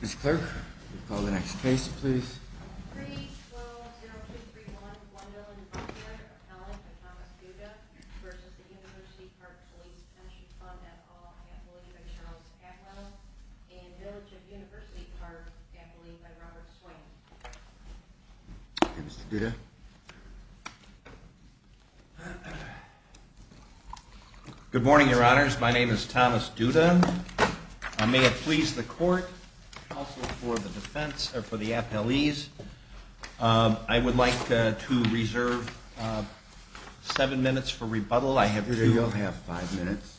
Ms. Clark, will you call the next case please? 3-12-0231-1014, Appellant, Thomas Duda v. The University Park Police Pension Fund at all, Appellate, Charles Atwell, and Village of University Park, Appellee, Robert Swain. Good morning, your honors. My name is Thomas Duda. May it please the court, also for the defense, or for the appellees, I would like to reserve seven minutes for rebuttal. You'll have five minutes.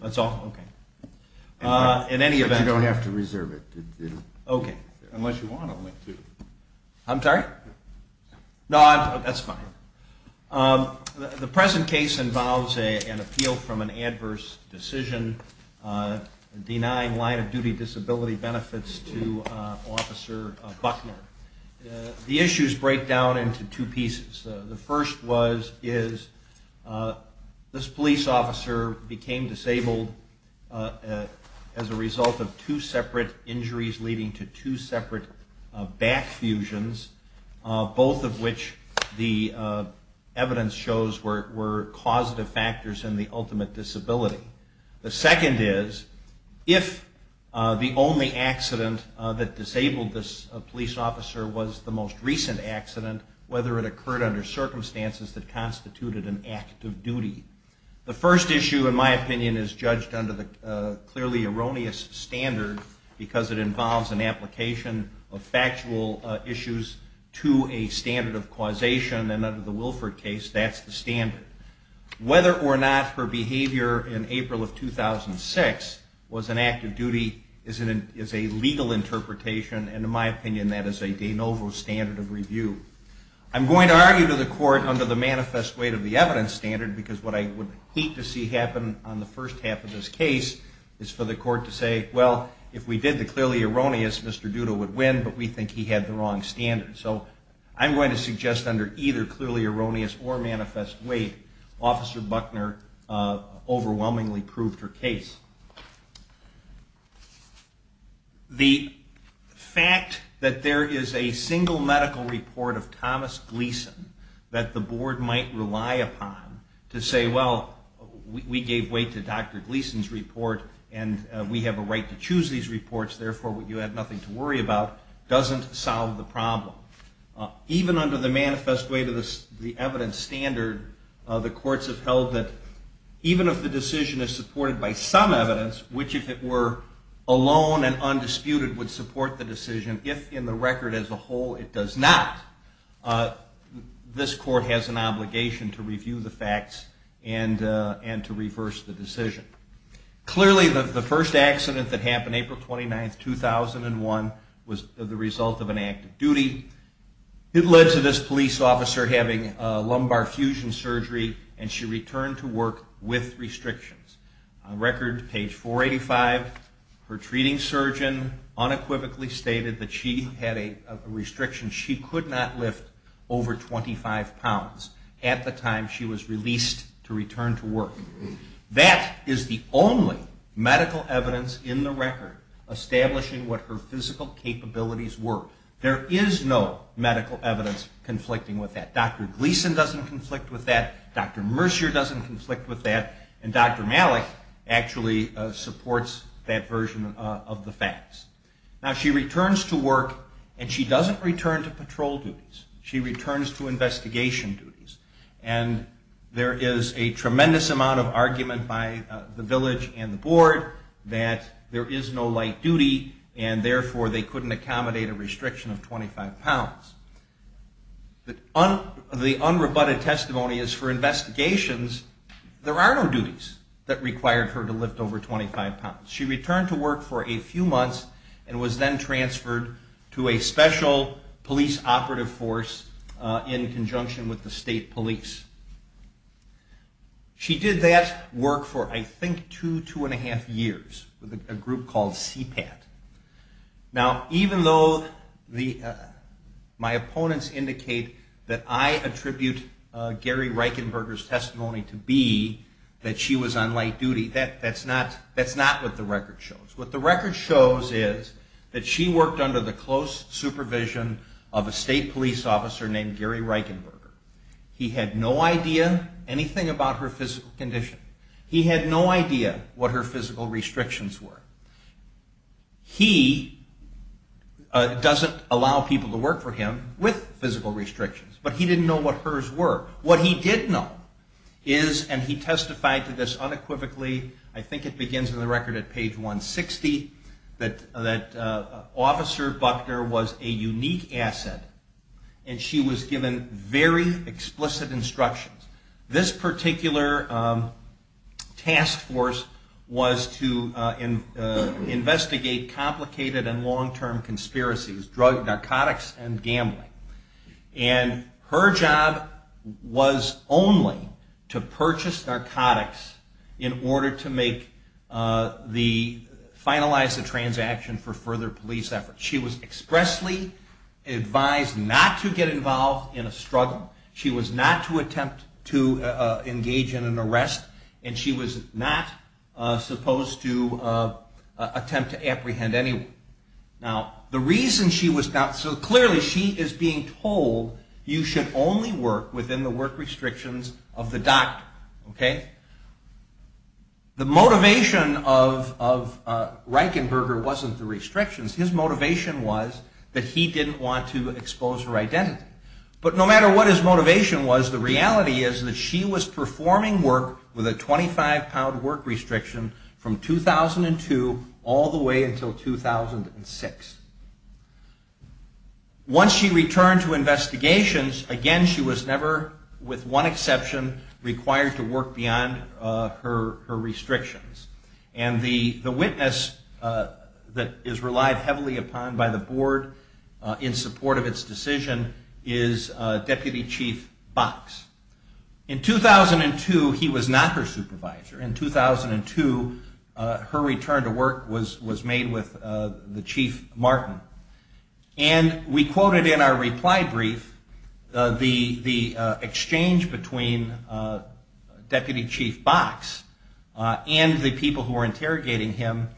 That's all? Okay. In any event... You don't have to reserve it. Okay. Unless you want to. I'm sorry? No, that's fine. The present case involves an appeal from an adverse decision denying line-of-duty disability benefits to Officer Buckner. The issues break down into two pieces. The first is this police officer became disabled as a result of two separate injuries leading to two separate back fusions, both of which the evidence shows were causative factors in the ultimate disability. The second is, if the only accident that disabled this police officer was the most recent accident, whether it occurred under circumstances that constituted an act of duty. The first issue, in my opinion, is judged under the clearly erroneous standard because it involves an application of factual issues to a standard of causation, and under the Wilford case, that's the standard. Whether or not her behavior in April of 2006 was an act of duty is a legal interpretation, and in my opinion, that is a de novo standard of review. I'm going to argue to the court under the manifest weight of the evidence standard because what I would hate to see happen on the first half of this case is for the court to say, well, if we did the clearly erroneous, Mr. Duda would win, but we think he had the wrong standard. So I'm going to suggest under either clearly erroneous or manifest weight, Officer Buckner overwhelmingly proved her case. The fact that there is a single medical report of Thomas Gleason that the board might rely upon to say, well, we gave weight to Dr. Gleason's report and we have a right to choose these reports, therefore you have nothing to worry about, doesn't solve the problem. Even under the manifest weight of the evidence standard, the courts have held that even if the decision is supported by some evidence, which if it were alone and undisputed would support the decision, if in the record as a whole it does not, this court has an obligation to review the facts and to reverse the decision. Clearly the first accident that happened April 29, 2001 was the result of an act of duty. It led to this police officer having a lumbar fusion surgery and she returned to work with restrictions. On record, page 485, her treating surgeon unequivocally stated that she had a restriction. She could not lift over 25 pounds at the time she was released to return to work. That is the only medical evidence in the record establishing what her physical capabilities were. There is no medical evidence conflicting with that. Dr. Gleason doesn't conflict with that, Dr. Mercier doesn't conflict with that, and Dr. Malik actually supports that version of the facts. Now she returns to work and she doesn't return to patrol duties. She returns to investigation duties. And there is a tremendous amount of argument by the village and the board that there is no light duty and therefore they couldn't accommodate a restriction of 25 pounds. The unrebutted testimony is for investigations there are no duties that required her to lift over 25 pounds. She returned to work for a few months and was then transferred to a special police operative force in conjunction with the state police. She did that work for I think two, two and a half years with a group called CPAT. Now even though my opponents indicate that I attribute Gary Reichenberger's testimony to be that she was on light duty, that's not what the record shows. What the record shows is that she worked under the close supervision of a state police officer named Gary Reichenberger. He had no idea anything about her physical condition. He had no idea what her physical restrictions were. He doesn't allow people to work for him with physical restrictions, but he didn't know what hers were. What he did know is, and he testified to this unequivocally, I think it begins in the record at page 160, that Officer Buckner was a unique asset and she was given very explicit instructions. This particular task force was to investigate complicated and long-term conspiracies, narcotics and gambling. And her job was only to purchase narcotics in order to finalize the transaction for further police efforts. She was expressly advised not to get involved in a struggle. She was not to attempt to engage in an arrest. And she was not supposed to attempt to apprehend anyone. So clearly she is being told you should only work within the work restrictions of the doctor. The motivation of Reichenberger wasn't the restrictions. His motivation was that he didn't want to expose her identity. But no matter what his motivation was, the reality is that she was performing work with a 25-pound work restriction from 2002 all the way until 2006. Once she returned to investigations, again she was never, with one exception, required to work beyond her restrictions. And the witness that is relied heavily upon by the board in support of its decision is Deputy Chief Box. In 2002 he was not her supervisor. In 2002 her return to work was made with the Chief Martin. And we quoted in our reply brief the exchange between Deputy Chief Box and the people who were interrogating him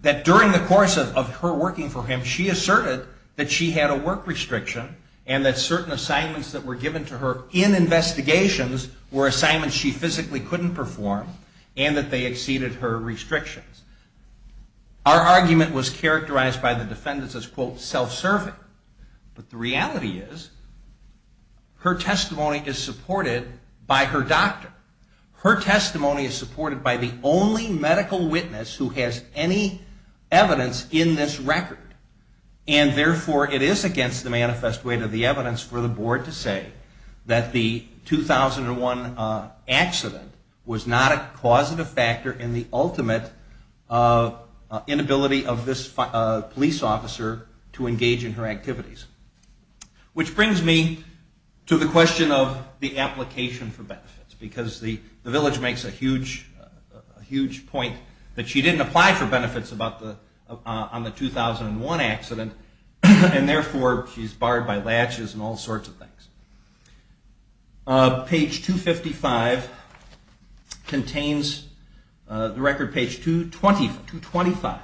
that during the course of her working for him, she asserted that she had a work restriction and that certain assignments that were given to her in investigations were assignments she physically couldn't perform and that they exceeded her restrictions. Our argument was characterized by the defendants as quote self-serving. But the reality is her testimony is supported by her doctor. Her testimony is supported by the only medical witness who has any evidence in this record. And therefore it is against the manifest weight of the evidence for the board to say that the 2001 accident was not a causative factor in the ultimate cause of death. Inability of this police officer to engage in her activities. Which brings me to the question of the application for benefits. Because the village makes a huge point that she didn't apply for benefits on the 2001 accident and therefore she's barred by latches and all sorts of things. Page 255 contains, the record page 225,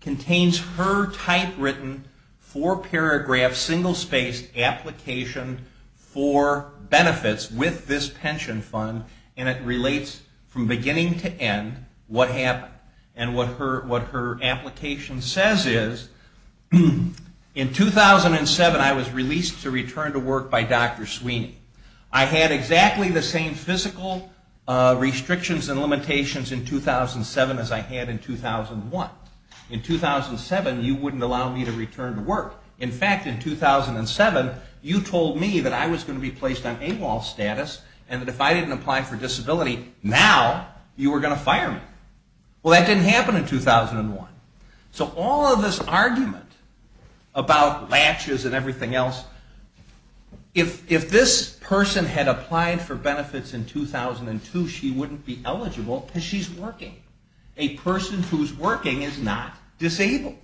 contains her typewritten four paragraph single spaced application for benefits with this pension fund and it relates from beginning to end what happened. And what her application says is, in 2007 I was released to return to work by Dr. Sweeney. I had exactly the same physical restrictions and limitations in 2007 as I had in 2001. In 2007 you wouldn't allow me to return to work. In fact in 2007 you told me that I was going to be placed on AWOL status and that if I didn't apply for disability now you were going to fire me. Well that didn't happen in 2001. So all of this argument about latches and everything else, if this person had applied for benefits in 2002 she wouldn't be eligible because she's working. A person who's working is not disabled.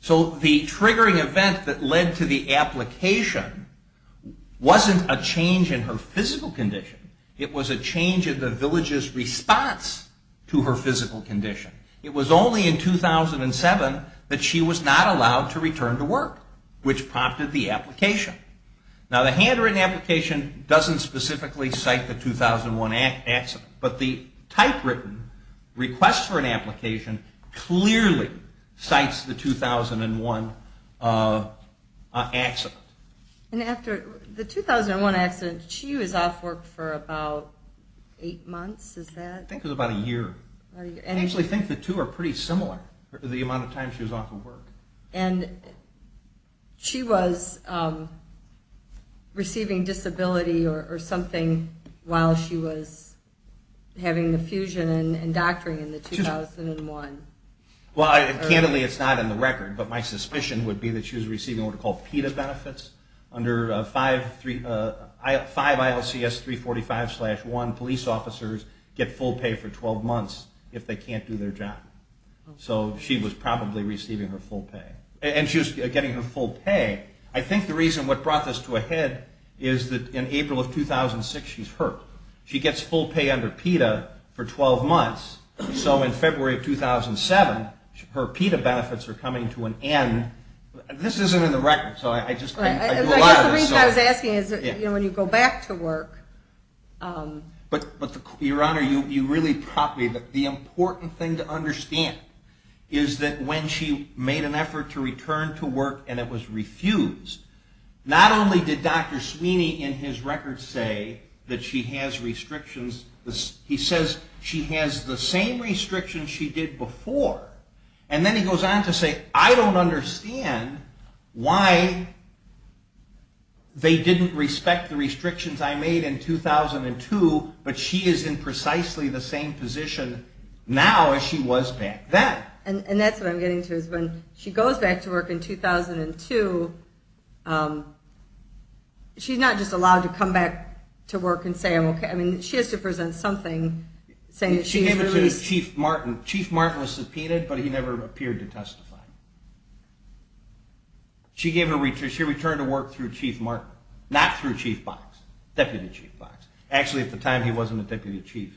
So the triggering event that led to the application wasn't a change in her physical condition. It was a change in the village's response to her physical condition. It was only in 2007 that she was not allowed to return to work, which prompted the application. Now the handwritten application doesn't specifically cite the 2001 accident, but the typewritten request for an application clearly cites the 2001 accident. And after the 2001 accident, she was off work for about eight months? I think it was about a year. I actually think the two are pretty similar, the amount of time she was off of work. And she was receiving disability or something while she was having the fusion and doctoring in 2001? Well, candidly it's not in the record, but my suspicion would be that she was receiving what are called PETA benefits. Under 5 ILCS 345-1 police officers get full pay for 12 months if they can't do their job. So she was probably receiving her full pay. And she was getting her full pay. I think the reason what brought this to a head is that in April of 2006 she's hurt. She gets full pay under PETA for 12 months. So in February of 2007 her PETA benefits are coming to an end. This isn't in the record. I guess the reason I was asking is that when you go back to work... Your Honor, you really propped me. The important thing to understand is that when she made an effort to return to work and it was refused, not only did Dr. Sweeney in his record say that she has restrictions, he says she has the same restrictions she did before. And then he goes on to say, I don't understand why they didn't respect the restrictions I made in 2002, but she is in precisely the same position now as she was back then. And that's what I'm getting to is when she goes back to work in 2002, she's not just allowed to come back to work and say I'm okay. I mean, she has to present something saying that she's released. Chief Martin was subpoenaed, but he never appeared to testify. She returned to work through Chief Martin. Not through Chief Box. Deputy Chief Box. Actually at the time he wasn't a deputy chief.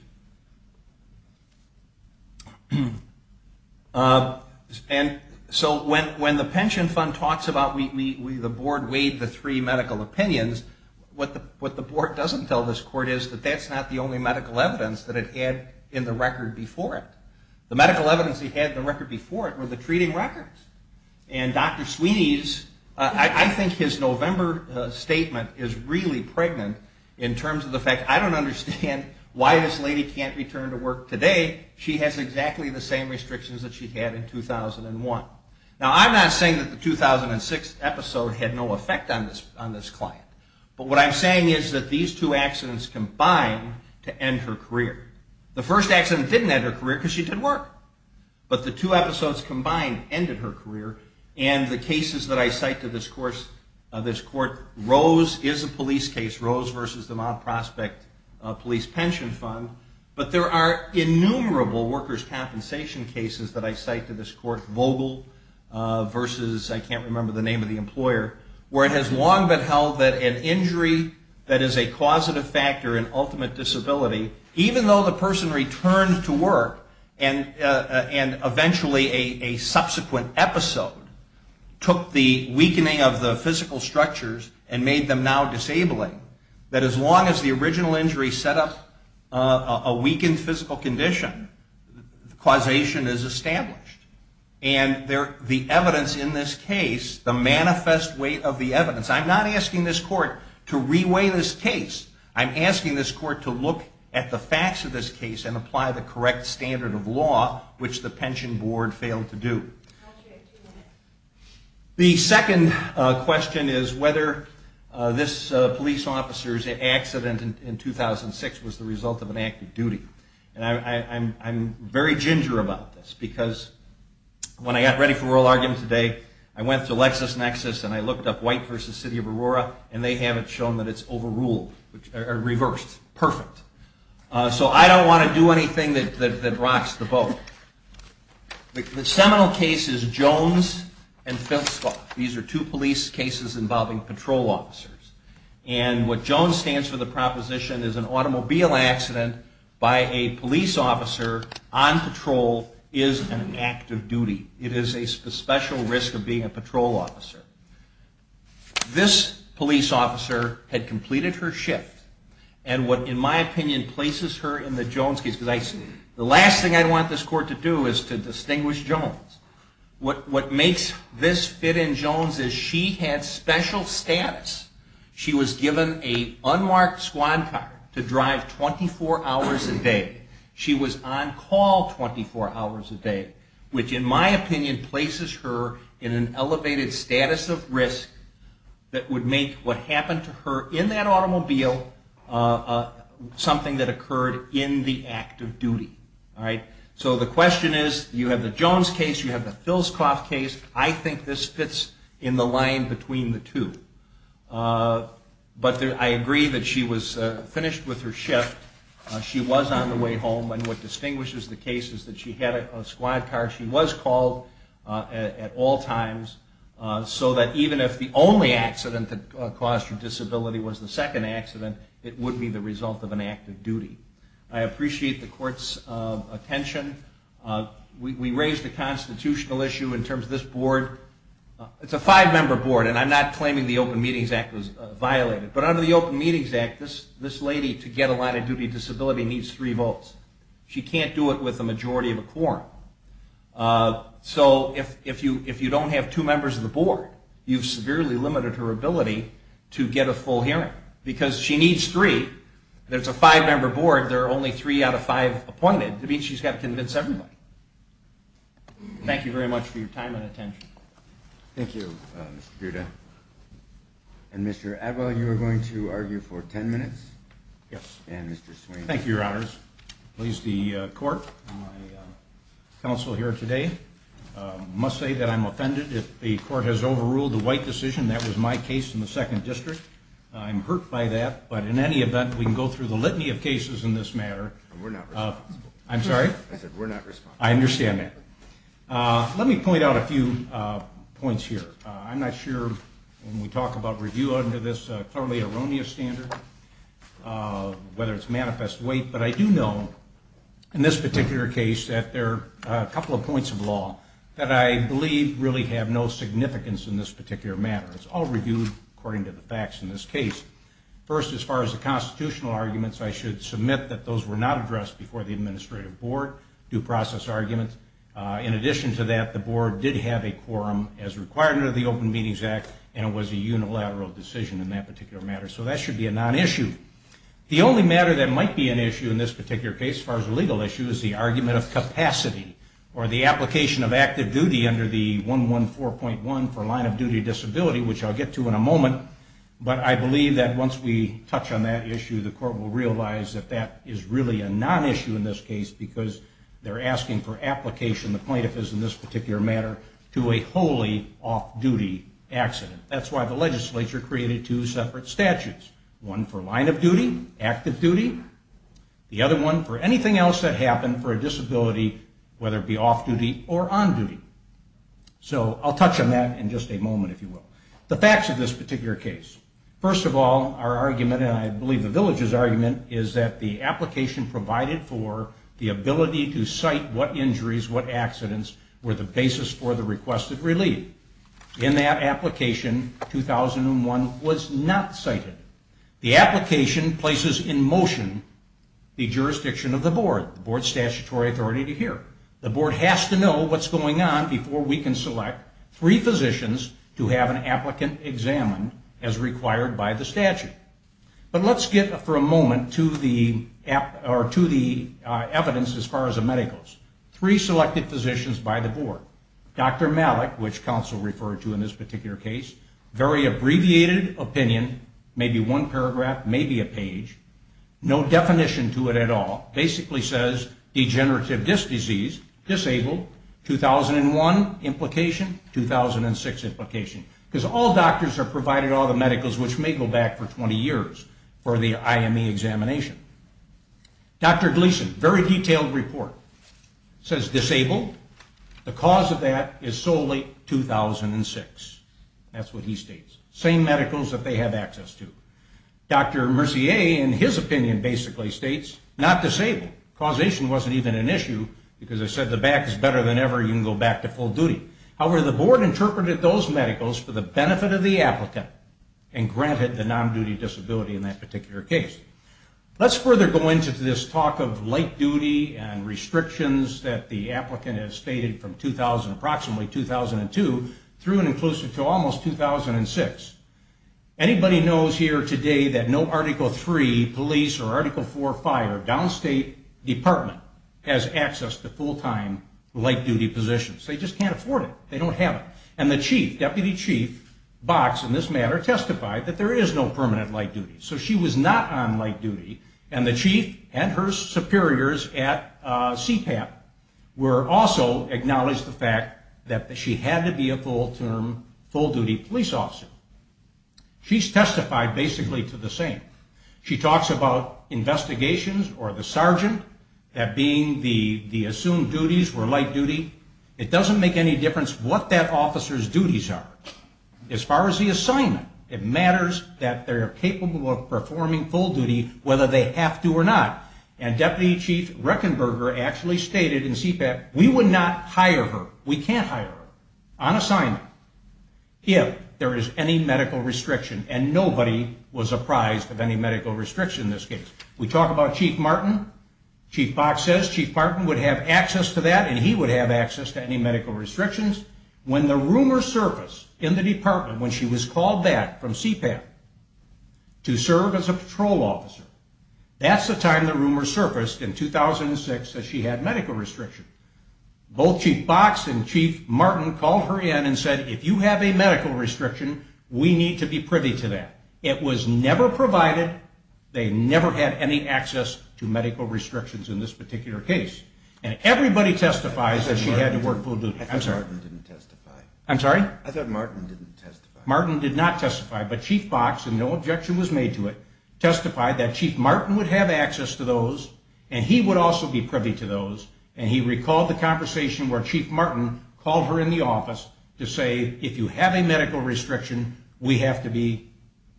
And so when the pension fund talks about the board weighed the three medical opinions, what the board doesn't tell this court is that that's not the only medical evidence that it had in the record before it. The medical evidence it had in the record before it were the treating records. And Dr. Sweeney's, I think his November statement is really pregnant in terms of the fact I don't understand why this lady can't return to work today. She has exactly the same restrictions that she had in 2001. Now I'm not saying that the 2006 episode had no effect on this client, but what I'm saying is that these two accidents combined to end her career. The first accident didn't end her career because she did work. But the two episodes combined ended her career. And the cases that I cite to this court, Rose is a police case. Rose versus the Mount Prospect Police Pension Fund. But there are innumerable workers' compensation cases that I cite to this court. Vogel versus I can't remember the name of the employer, where it has long been held that an injury that is a causative factor in ultimate disability, even though the person returned to work and eventually a subsequent episode took the weakening of the physical structures and made them now disabling, that as long as the original injury set up a weakened physical condition, causation is established. And the evidence in this case, the manifest weight of the evidence, I'm not asking this court to reweigh this case. I'm asking this court to look at the facts of this case and apply the correct standard of law, which the pension board failed to do. The second question is whether this police officer's accident in 2006 was the result of an act of duty. And I'm very ginger about this because when I got ready for oral argument today, I went to LexisNexis and I looked up White versus City of Aurora and they haven't shown that it's overruled, reversed, perfect. So I don't want to do anything that rocks the boat. The seminal case is Jones and Fittsvall. These are two police cases involving patrol officers. And what Jones stands for, the proposition is an automobile accident by a police officer on patrol is an act of duty. It is a special risk of being a patrol officer. This police officer had completed her shift and what, in my opinion, places her in the Jones case. The last thing I want this court to do is to distinguish Jones. What makes this fit in Jones is she had special status. She was given an unmarked squad car to drive 24 hours a day. She was on call 24 hours a day, which in my opinion places her in an elevated status of risk that would make what happened to her in that automobile something that occurred in the act of duty. So the question is, you have the Jones case, you have the Filscoff case. I think this fits in the line between the two. But I agree that she was finished with her shift. She was on the way home. And what distinguishes the case is that she had a squad car. She was called at all times so that even if the only accident that caused her disability was the second accident, it would be the result of an act of duty. I appreciate the court's attention. We raised a constitutional issue in terms of this board. It's a five-member board and I'm not claiming the Open Meetings Act was violated. But under the Open Meetings Act, this lady to get a line of duty disability needs three votes. She can't do it with a majority of a quorum. So if you don't have two members of the board, you've severely limited her ability to get a full hearing because she needs three. There's a five-member board. There are only three out of five appointed. That means she's got to convince everybody. Thank you very much for your time and attention. Thank you, Mr. Bierda. And Mr. Adwell, you are going to argue for ten minutes? Yes. And Mr. Swain. Thank you, Your Honors. Please, the court, my counsel here today must say that I'm offended if the court has overruled the White decision. That was my case in the Second District. I'm hurt by that. But in any event, we can go through the litany of cases in this matter. We're not responsible. I'm sorry? I said we're not responsible. I understand that. Let me point out a few points here. I'm not sure when we talk about review under this clearly erroneous standard whether it's manifest weight, but I do know in this particular case that there are a couple of points of law that I believe really have no significance in this particular matter. It's all reviewed according to the facts in this case. First, as far as the constitutional arguments, I should submit that those were not addressed before the administrative board, due process arguments. In addition to that, the board did have a quorum as required under the Open Meetings Act, and it was a unilateral decision in that particular matter. So that should be a non-issue. The only matter that might be an issue in this particular case as far as a legal issue is the argument of capacity or the application of active duty under the 114.1 for line of duty disability, which I'll get to in a moment. But I believe that once we touch on that issue, the court will realize that that is really a non-issue in this case because they're asking for application, the plaintiff is in this particular matter, to a wholly off-duty accident. That's why the legislature created two separate statutes, one for line of duty, active duty, the other one for anything else that happened for a disability, whether it be off-duty or on-duty. So I'll touch on that in just a moment, if you will. The facts of this particular case. First of all, our argument, and I believe the village's argument, is that the application provided for the ability to cite what injuries, what accidents, were the basis for the request of relief. In that application, 2001, was not cited. The application places in motion the jurisdiction of the board, the board's statutory authority to hear. The board has to know what's going on before we can select three physicians to have an application. And that's what the applicant examined as required by the statute. But let's get for a moment to the evidence as far as the medicals. Three selected physicians by the board. Dr. Malik, which counsel referred to in this particular case, very abbreviated opinion, maybe one paragraph, maybe a page, no definition to it at all, basically says degenerative disc disease, disabled, 2001 implication, 2006 implication. Because all doctors are provided all the medicals which may go back for 20 years for the IME examination. Dr. Gleason, very detailed report, says disabled. The cause of that is solely 2006. That's what he states. Same medicals that they have access to. Dr. Mercier, in his opinion, basically states, not disabled. Causation wasn't even an issue because it said the back is better than ever, you can go back to full duty. However, the board interpreted those medicals for the benefit of the applicant and granted the non-duty disability in that particular case. Let's further go into this talk of light duty and restrictions that the applicant has stated from approximately 2002 through and inclusive to almost 2006. Anybody knows here today that no Article 3 police or Article 4 fire downstate department has access to full time light duty positions. They just can't afford it. They don't have it. And the chief, deputy chief, Box, in this matter, testified that there is no permanent light duty. So she was not on light duty and the chief and her superiors at CPAP were also acknowledged the fact that she had to be a full term, full duty police officer. She's testified basically to the same. She talks about investigations or the sergeant, that being the assumed duties were light duty. It doesn't make any difference what that officer's duties are. As far as the assignment, it matters that they're capable of performing full duty, whether they have to or not. And Deputy Chief Reckenberger actually stated in CPAP, we would not hire her, we can't hire her, on assignment, if there is any need to. And nobody was apprised of any medical restriction in this case. We talk about Chief Martin. Chief Box says Chief Martin would have access to that and he would have access to any medical restrictions. When the rumors surfaced in the department when she was called back from CPAP to serve as a patrol officer, that's the time the rumors surfaced in 2006 that she had medical restrictions. Both Chief Box and Chief Martin called her in and said, if you have a medical restriction, we need to be privy to that. It was never provided. They never had any access to medical restrictions in this particular case. And everybody testifies that she had to work full duty. I'm sorry. I thought Martin didn't testify. Martin did not testify, but Chief Box, and no objection was made to it, testified that Chief Martin would have access to those and he would also be privy to those. And he recalled the conversation where Chief Martin called her in the office to say, if you have a medical restriction, we have to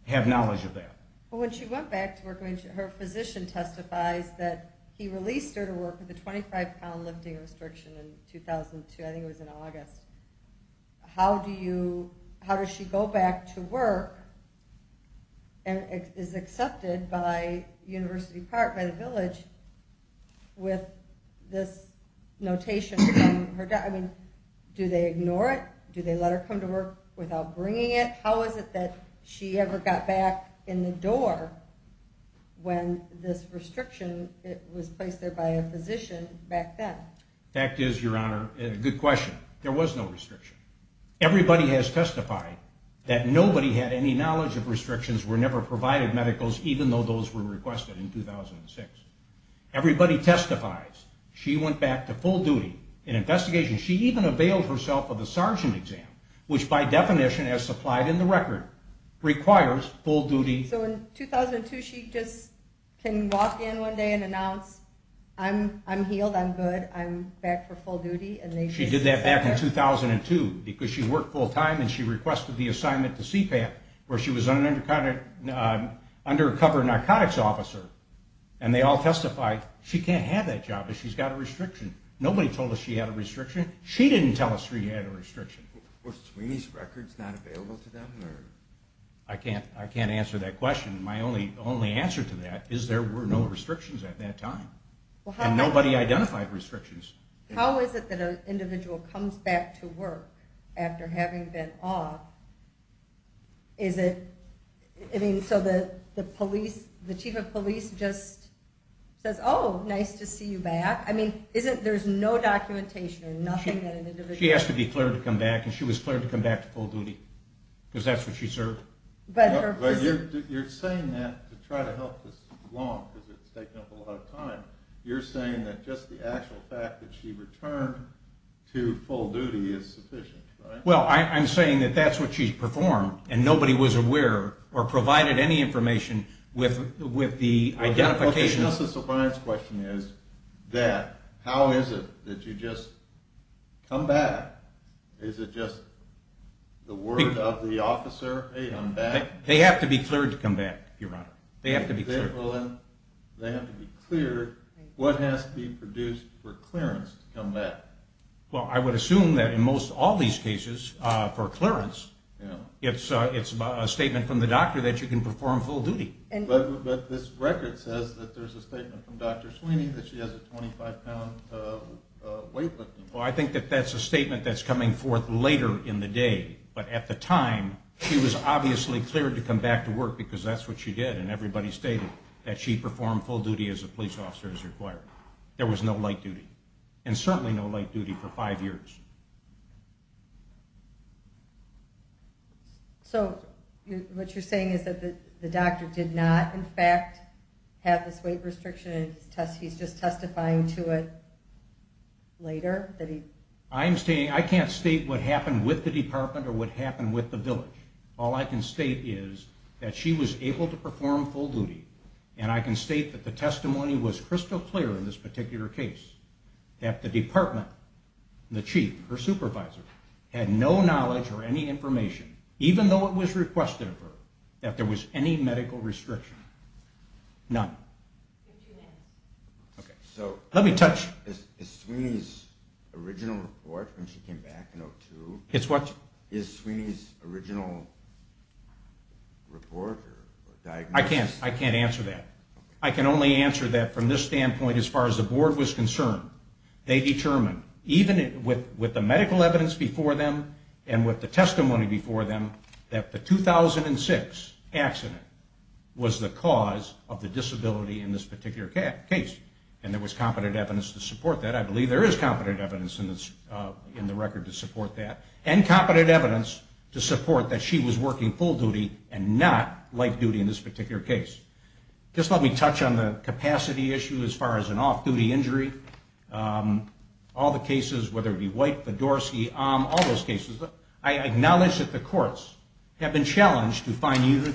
have knowledge of that. But when she went back to work, her physician testifies that he released her to work with a 25 pound lifting restriction in 2002. I think it was in August. How do you, how does she go back to work and is accepted by University Park, by the village, with this notation from her doctor? I mean, do they ignore it? Do they let her come to work without bringing it? How is it that she ever got back in the door when this restriction was placed there by a physician back then? The fact is, Your Honor, a good question. There was no restriction. Everybody has testified that nobody had any knowledge of restrictions, were never provided medicals, even though those were requested in 2006. Everybody testifies she went back to full duty. In investigation, she even availed herself of the sergeant exam, which by definition has supplied in the record, requires full duty. So in 2002, she just can walk in one day and announce, I'm healed, I'm good, I'm back for full duty. She did that back in 2002 because she worked full time and she requested the assignment to CPAP where she was an undercover narcotics officer. And they all testified she can't have that job because she's got a restriction. Nobody told us she had a restriction. She didn't tell us she had a restriction. Were Sweeney's records not available to them? I can't answer that question. My only answer to that is there were no restrictions at that time. And nobody identified restrictions. How is it that an individual comes back to work after having been off? So the chief of police just says, oh, nice to see you back. There's no documentation or nothing that an individual... She asked to be cleared to come back and she was cleared to come back to full duty because that's what she served. But you're saying that, to try to help this along because it's taken up a lot of time, you're saying that just the actual fact that she returned to full duty is sufficient. Well, I'm saying that that's what she's performed and nobody was aware or provided any information with the identification. Just the surprise question is that, how is it that you just come back? Is it just the word of the officer, hey, I'm back? They have to be cleared to come back, Your Honor. They have to be cleared. What has to be produced for clearance to come back? Well, I would assume that in most all these cases, for clearance, it's a statement from the doctor that you can perform full duty. But this record says that there's a statement from Dr. Sweeney that she has a 25-pound weight limit. Well, I think that that's a statement that's coming forth later in the day. But at the time, she was obviously cleared to come back to work because that's what she did and everybody stated that she performed full duty as a police officer as required. There was no light duty and certainly no light duty for five years. So what you're saying is that the doctor did not, in fact, have this weight restriction and he's just testifying to it later? I can't state what happened with the department or what happened with the village. All I can state is that she was able to perform full duty and I can state that the testimony was crystal clear in this particular case. That the department, the chief, her supervisor, had no knowledge or any information, even though it was requested of her, that there was any medical restriction. None. Is Sweeney's original report when she came back in 2002, is Sweeney's original report or diagnosis... I can't answer that. I can only answer that from this standpoint as far as the board was concerned. They determined, even with the medical evidence before them and with the testimony before them, that the 2006 accident was the cause of the disability in this particular case. And there was competent evidence to support that. I believe there is competent evidence in the record to support that. And competent evidence to support that she was working full duty and not light duty in this particular case. Just let me touch on the capacity issue as far as an off-duty injury. All the cases, whether it be White, Fedorsky, Ahm, all those cases. I acknowledge that the courts have been challenged to find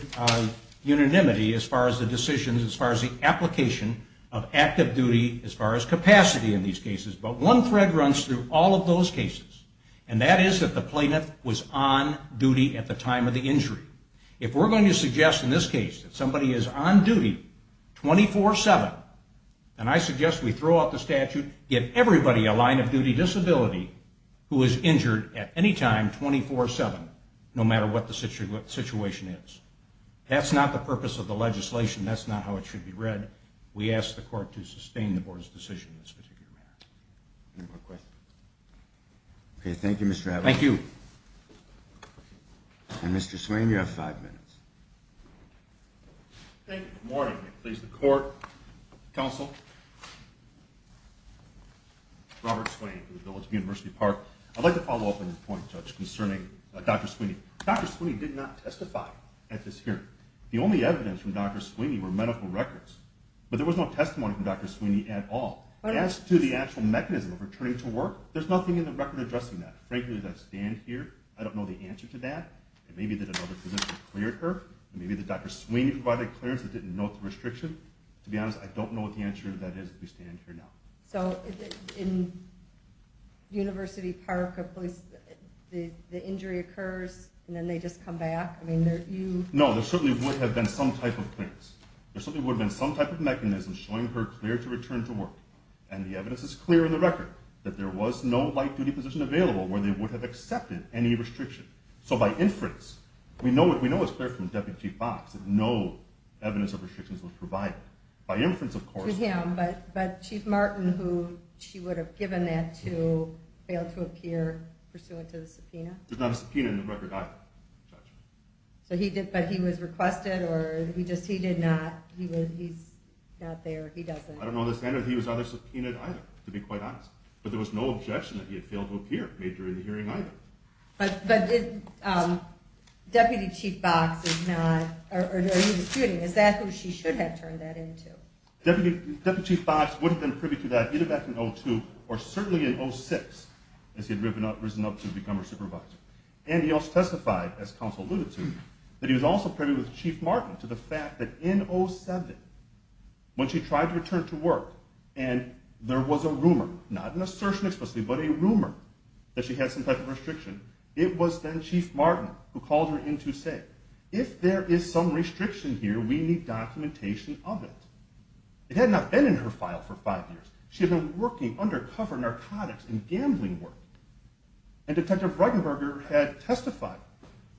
unanimity as far as the decisions, as far as the application of active duty as far as capacity in these cases. But one thread runs through all of those cases, and that is that the plaintiff was on duty at the time of the injury. If we're going to suggest in this case that somebody is on duty 24-7, then I suggest we throw out the statute, give everybody a line-of-duty disability who is injured at any time 24-7, no matter what the situation is. That's not the purpose of the legislation. That's not how it should be read. We ask the court to sustain the board's decision in this particular matter. Any more questions? Okay, thank you, Mr. Adler. Thank you. And Mr. Sweeney, you have five minutes. Thank you. Good morning. Please, the court, counsel. Robert Sweeney for the Village of University Park. I'd like to follow up on your point, Judge, concerning Dr. Sweeney. Dr. Sweeney did not testify at this hearing. The only evidence from Dr. Sweeney were medical records, but there was no testimony from Dr. Sweeney at all. As to the actual mechanism of returning to work, there's nothing in the record addressing that. Frankly, as I stand here, I don't know the answer to that. Maybe that another clinician cleared her. Maybe that Dr. Sweeney provided clearance and didn't note the restriction. To be honest, I don't know what the answer to that is as we stand here now. So in University Park, the injury occurs and then they just come back? No, there certainly would have been some type of clearance. There certainly would have been some type of mechanism showing her clear to return to work. And the evidence is clear in the record that there was no light-duty position available where they would have accepted any restriction. So by inference, we know it's clear from Deputy Chief Box that no evidence of restrictions was provided. By inference, of course... To him, but Chief Martin, who she would have given that to, failed to appear pursuant to the subpoena? There's not a subpoena in the record either, Judge. But he was requested or he just did not... he's not there, he doesn't... I don't know the standard that he was either subpoenaed either, to be quite honest. But there was no objection that he had failed to appear made during the hearing either. But Deputy Chief Box is not... or he was shooting. Is that who she should have turned that in to? Deputy Chief Box would have been privy to that either back in 2002 or certainly in 2006 as he had risen up to become her supervisor. And he also testified, as counsel alluded to, that he was also privy with Chief Martin to the fact that in 2007, when she tried to return to work and there was a rumor, not an assertion explicitly, but a rumor that she had some type of restriction, it was then Chief Martin who called her in to say, if there is some restriction here, we need documentation of it. It had not been in her file for five years. She had been working undercover narcotics and gambling work. And Detective Reichenberger had testified,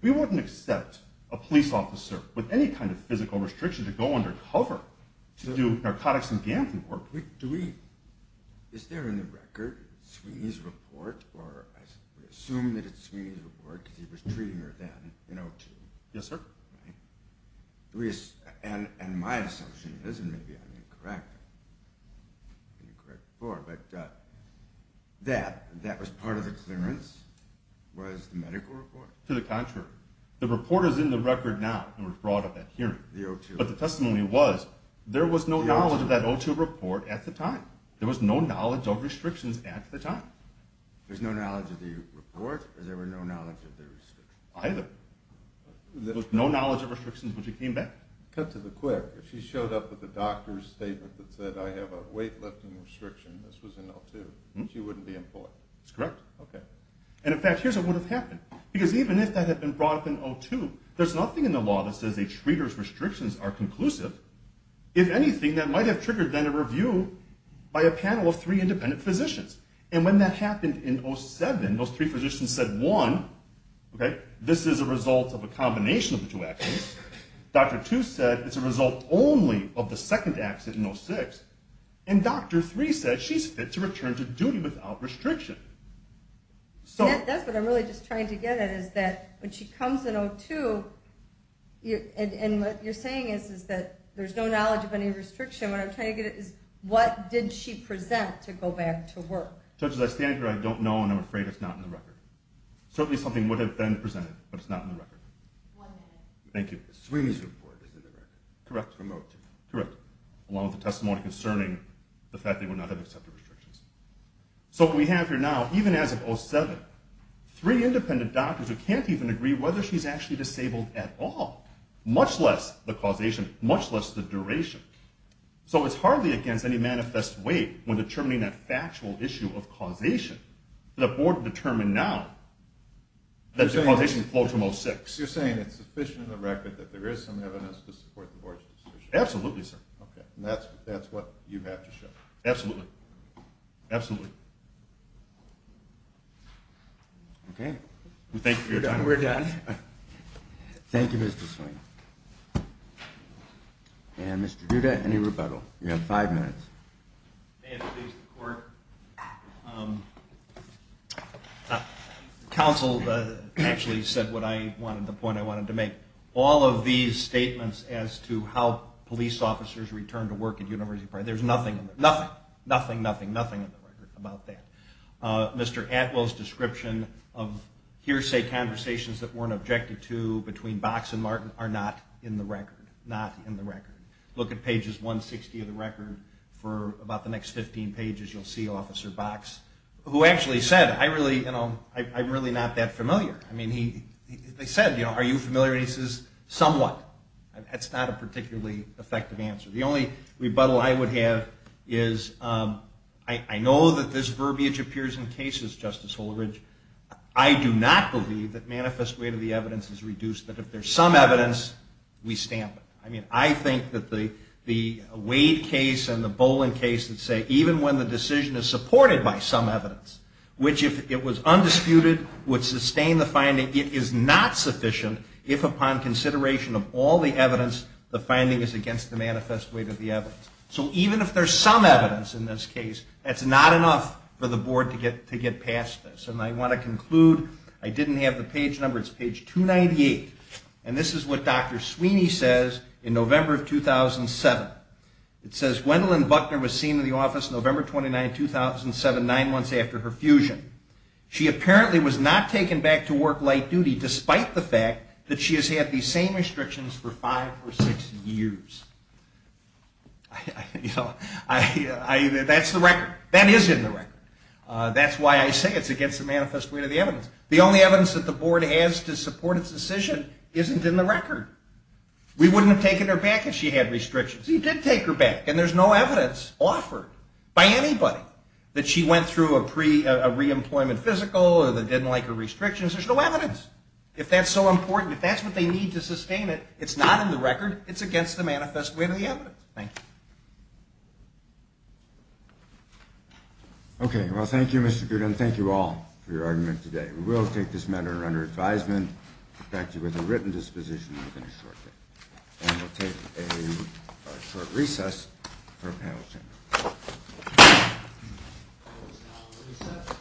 we wouldn't accept a police officer with any kind of physical restriction to go undercover to do narcotics and gambling work. Do we... is there in the record, Sweeney's report, or I assume that it's Sweeney's report because he was treating her then in 2002? Yes, sir. And my assumption is, and maybe I'm incorrect, but that was part of the clearance, was the medical report? To the contrary. The report is in the record now and was brought at that hearing. But the testimony was, there was no knowledge of that O2 report at the time. There was no knowledge of restrictions at the time. There was no knowledge of the report or there was no knowledge of the restrictions? Either. There was no knowledge of restrictions when she came back. Cut to the quick. If she showed up with a doctor's statement that said, I have a weightlifting restriction, this was in O2, she wouldn't be employed? That's correct. Okay. And in fact, here's what would have happened. Because even if that had been brought up in O2, there's nothing in the law that says a treater's restrictions are conclusive. If anything, that might have triggered then a review by a panel of three independent physicians. And when that happened in O7, those three physicians said, one, this is a result of a combination of the two accidents. Doctor two said, it's a result only of the second accident in O6. And doctor three said, she's fit to return to duty without restriction. That's what I'm really just trying to get at, is that when she comes in O2, and what you're saying is that there's no knowledge of any restriction. What I'm trying to get at is, what did she present to go back to work? Judge, as I stand here, I don't know, and I'm afraid it's not in the record. Certainly something would have been presented, but it's not in the record. One minute. Thank you. Swimming's report is in the record. Correct. Remote. Correct. Along with the testimony concerning the fact that they would not have accepted restrictions. So what we have here now, even as of O7, three independent doctors who can't even agree whether she's actually disabled at all. Much less the causation, much less the duration. So it's hardly against any manifest way when determining that factual issue of causation. The board determined now that the causation flowed from O6. You're saying it's sufficient in the record that there is some evidence to support the board's decision? Absolutely, sir. Okay. And that's what you have to show? Absolutely. Absolutely. Okay. Thank you for your time. We're done. Thank you, Mr. Swing. And Mr. Duda, any rebuttal? You have five minutes. May it please the court. Counsel actually said what I wanted, the point I wanted to make. All of these statements as to how police officers return to work at University Park, there's nothing in the record. Nothing. Nothing, nothing, nothing in the record about that. Mr. Atwell's description of hearsay conversations that weren't objected to between Box and Martin are not in the record. Not in the record. Look at pages 160 of the record for about the next 15 pages, you'll see Officer Box, who actually said, I really, you know, I'm really not that familiar. I mean, he said, you know, are you familiar? And he says, somewhat. That's not a particularly effective answer. The only rebuttal I would have is I know that this verbiage appears in cases, Justice Holeridge, I do not believe that manifest weight of the evidence is reduced. But if there's some evidence, we stamp it. I mean, I think that the Wade case and the Boland case that say even when the decision is supported by some evidence, which if it was undisputed would sustain the finding, it is not sufficient if upon consideration of all the evidence, the finding is against the manifest weight of the evidence. So even if there's some evidence in this case, that's not enough for the Board to get past this. And I want to conclude. I didn't have the page number. It's page 298. And this is what Dr. Sweeney says in November of 2007. It says, Gwendolyn Buckner was seen in the office November 29, 2007, nine months after her fusion. She apparently was not taken back to work light duty despite the fact that she has had these same restrictions for five or six years. You know, that's the record. That is in the record. That's why I say it's against the manifest weight of the evidence. The only evidence that the Board has to support its decision isn't in the record. We wouldn't have taken her back if she had restrictions. We did take her back, and there's no evidence offered by anybody that she went through a pre-employment physical or that didn't like her restrictions. There's no evidence. If that's so important, if that's what they need to sustain it, it's not in the record. It's against the manifest weight of the evidence. Thank you. Okay. Well, thank you, Mr. Goodwin. Thank you all for your argument today. We will take this matter under advisement to protect you with a written disposition within a short period. And we'll take a short recess for a panel discussion.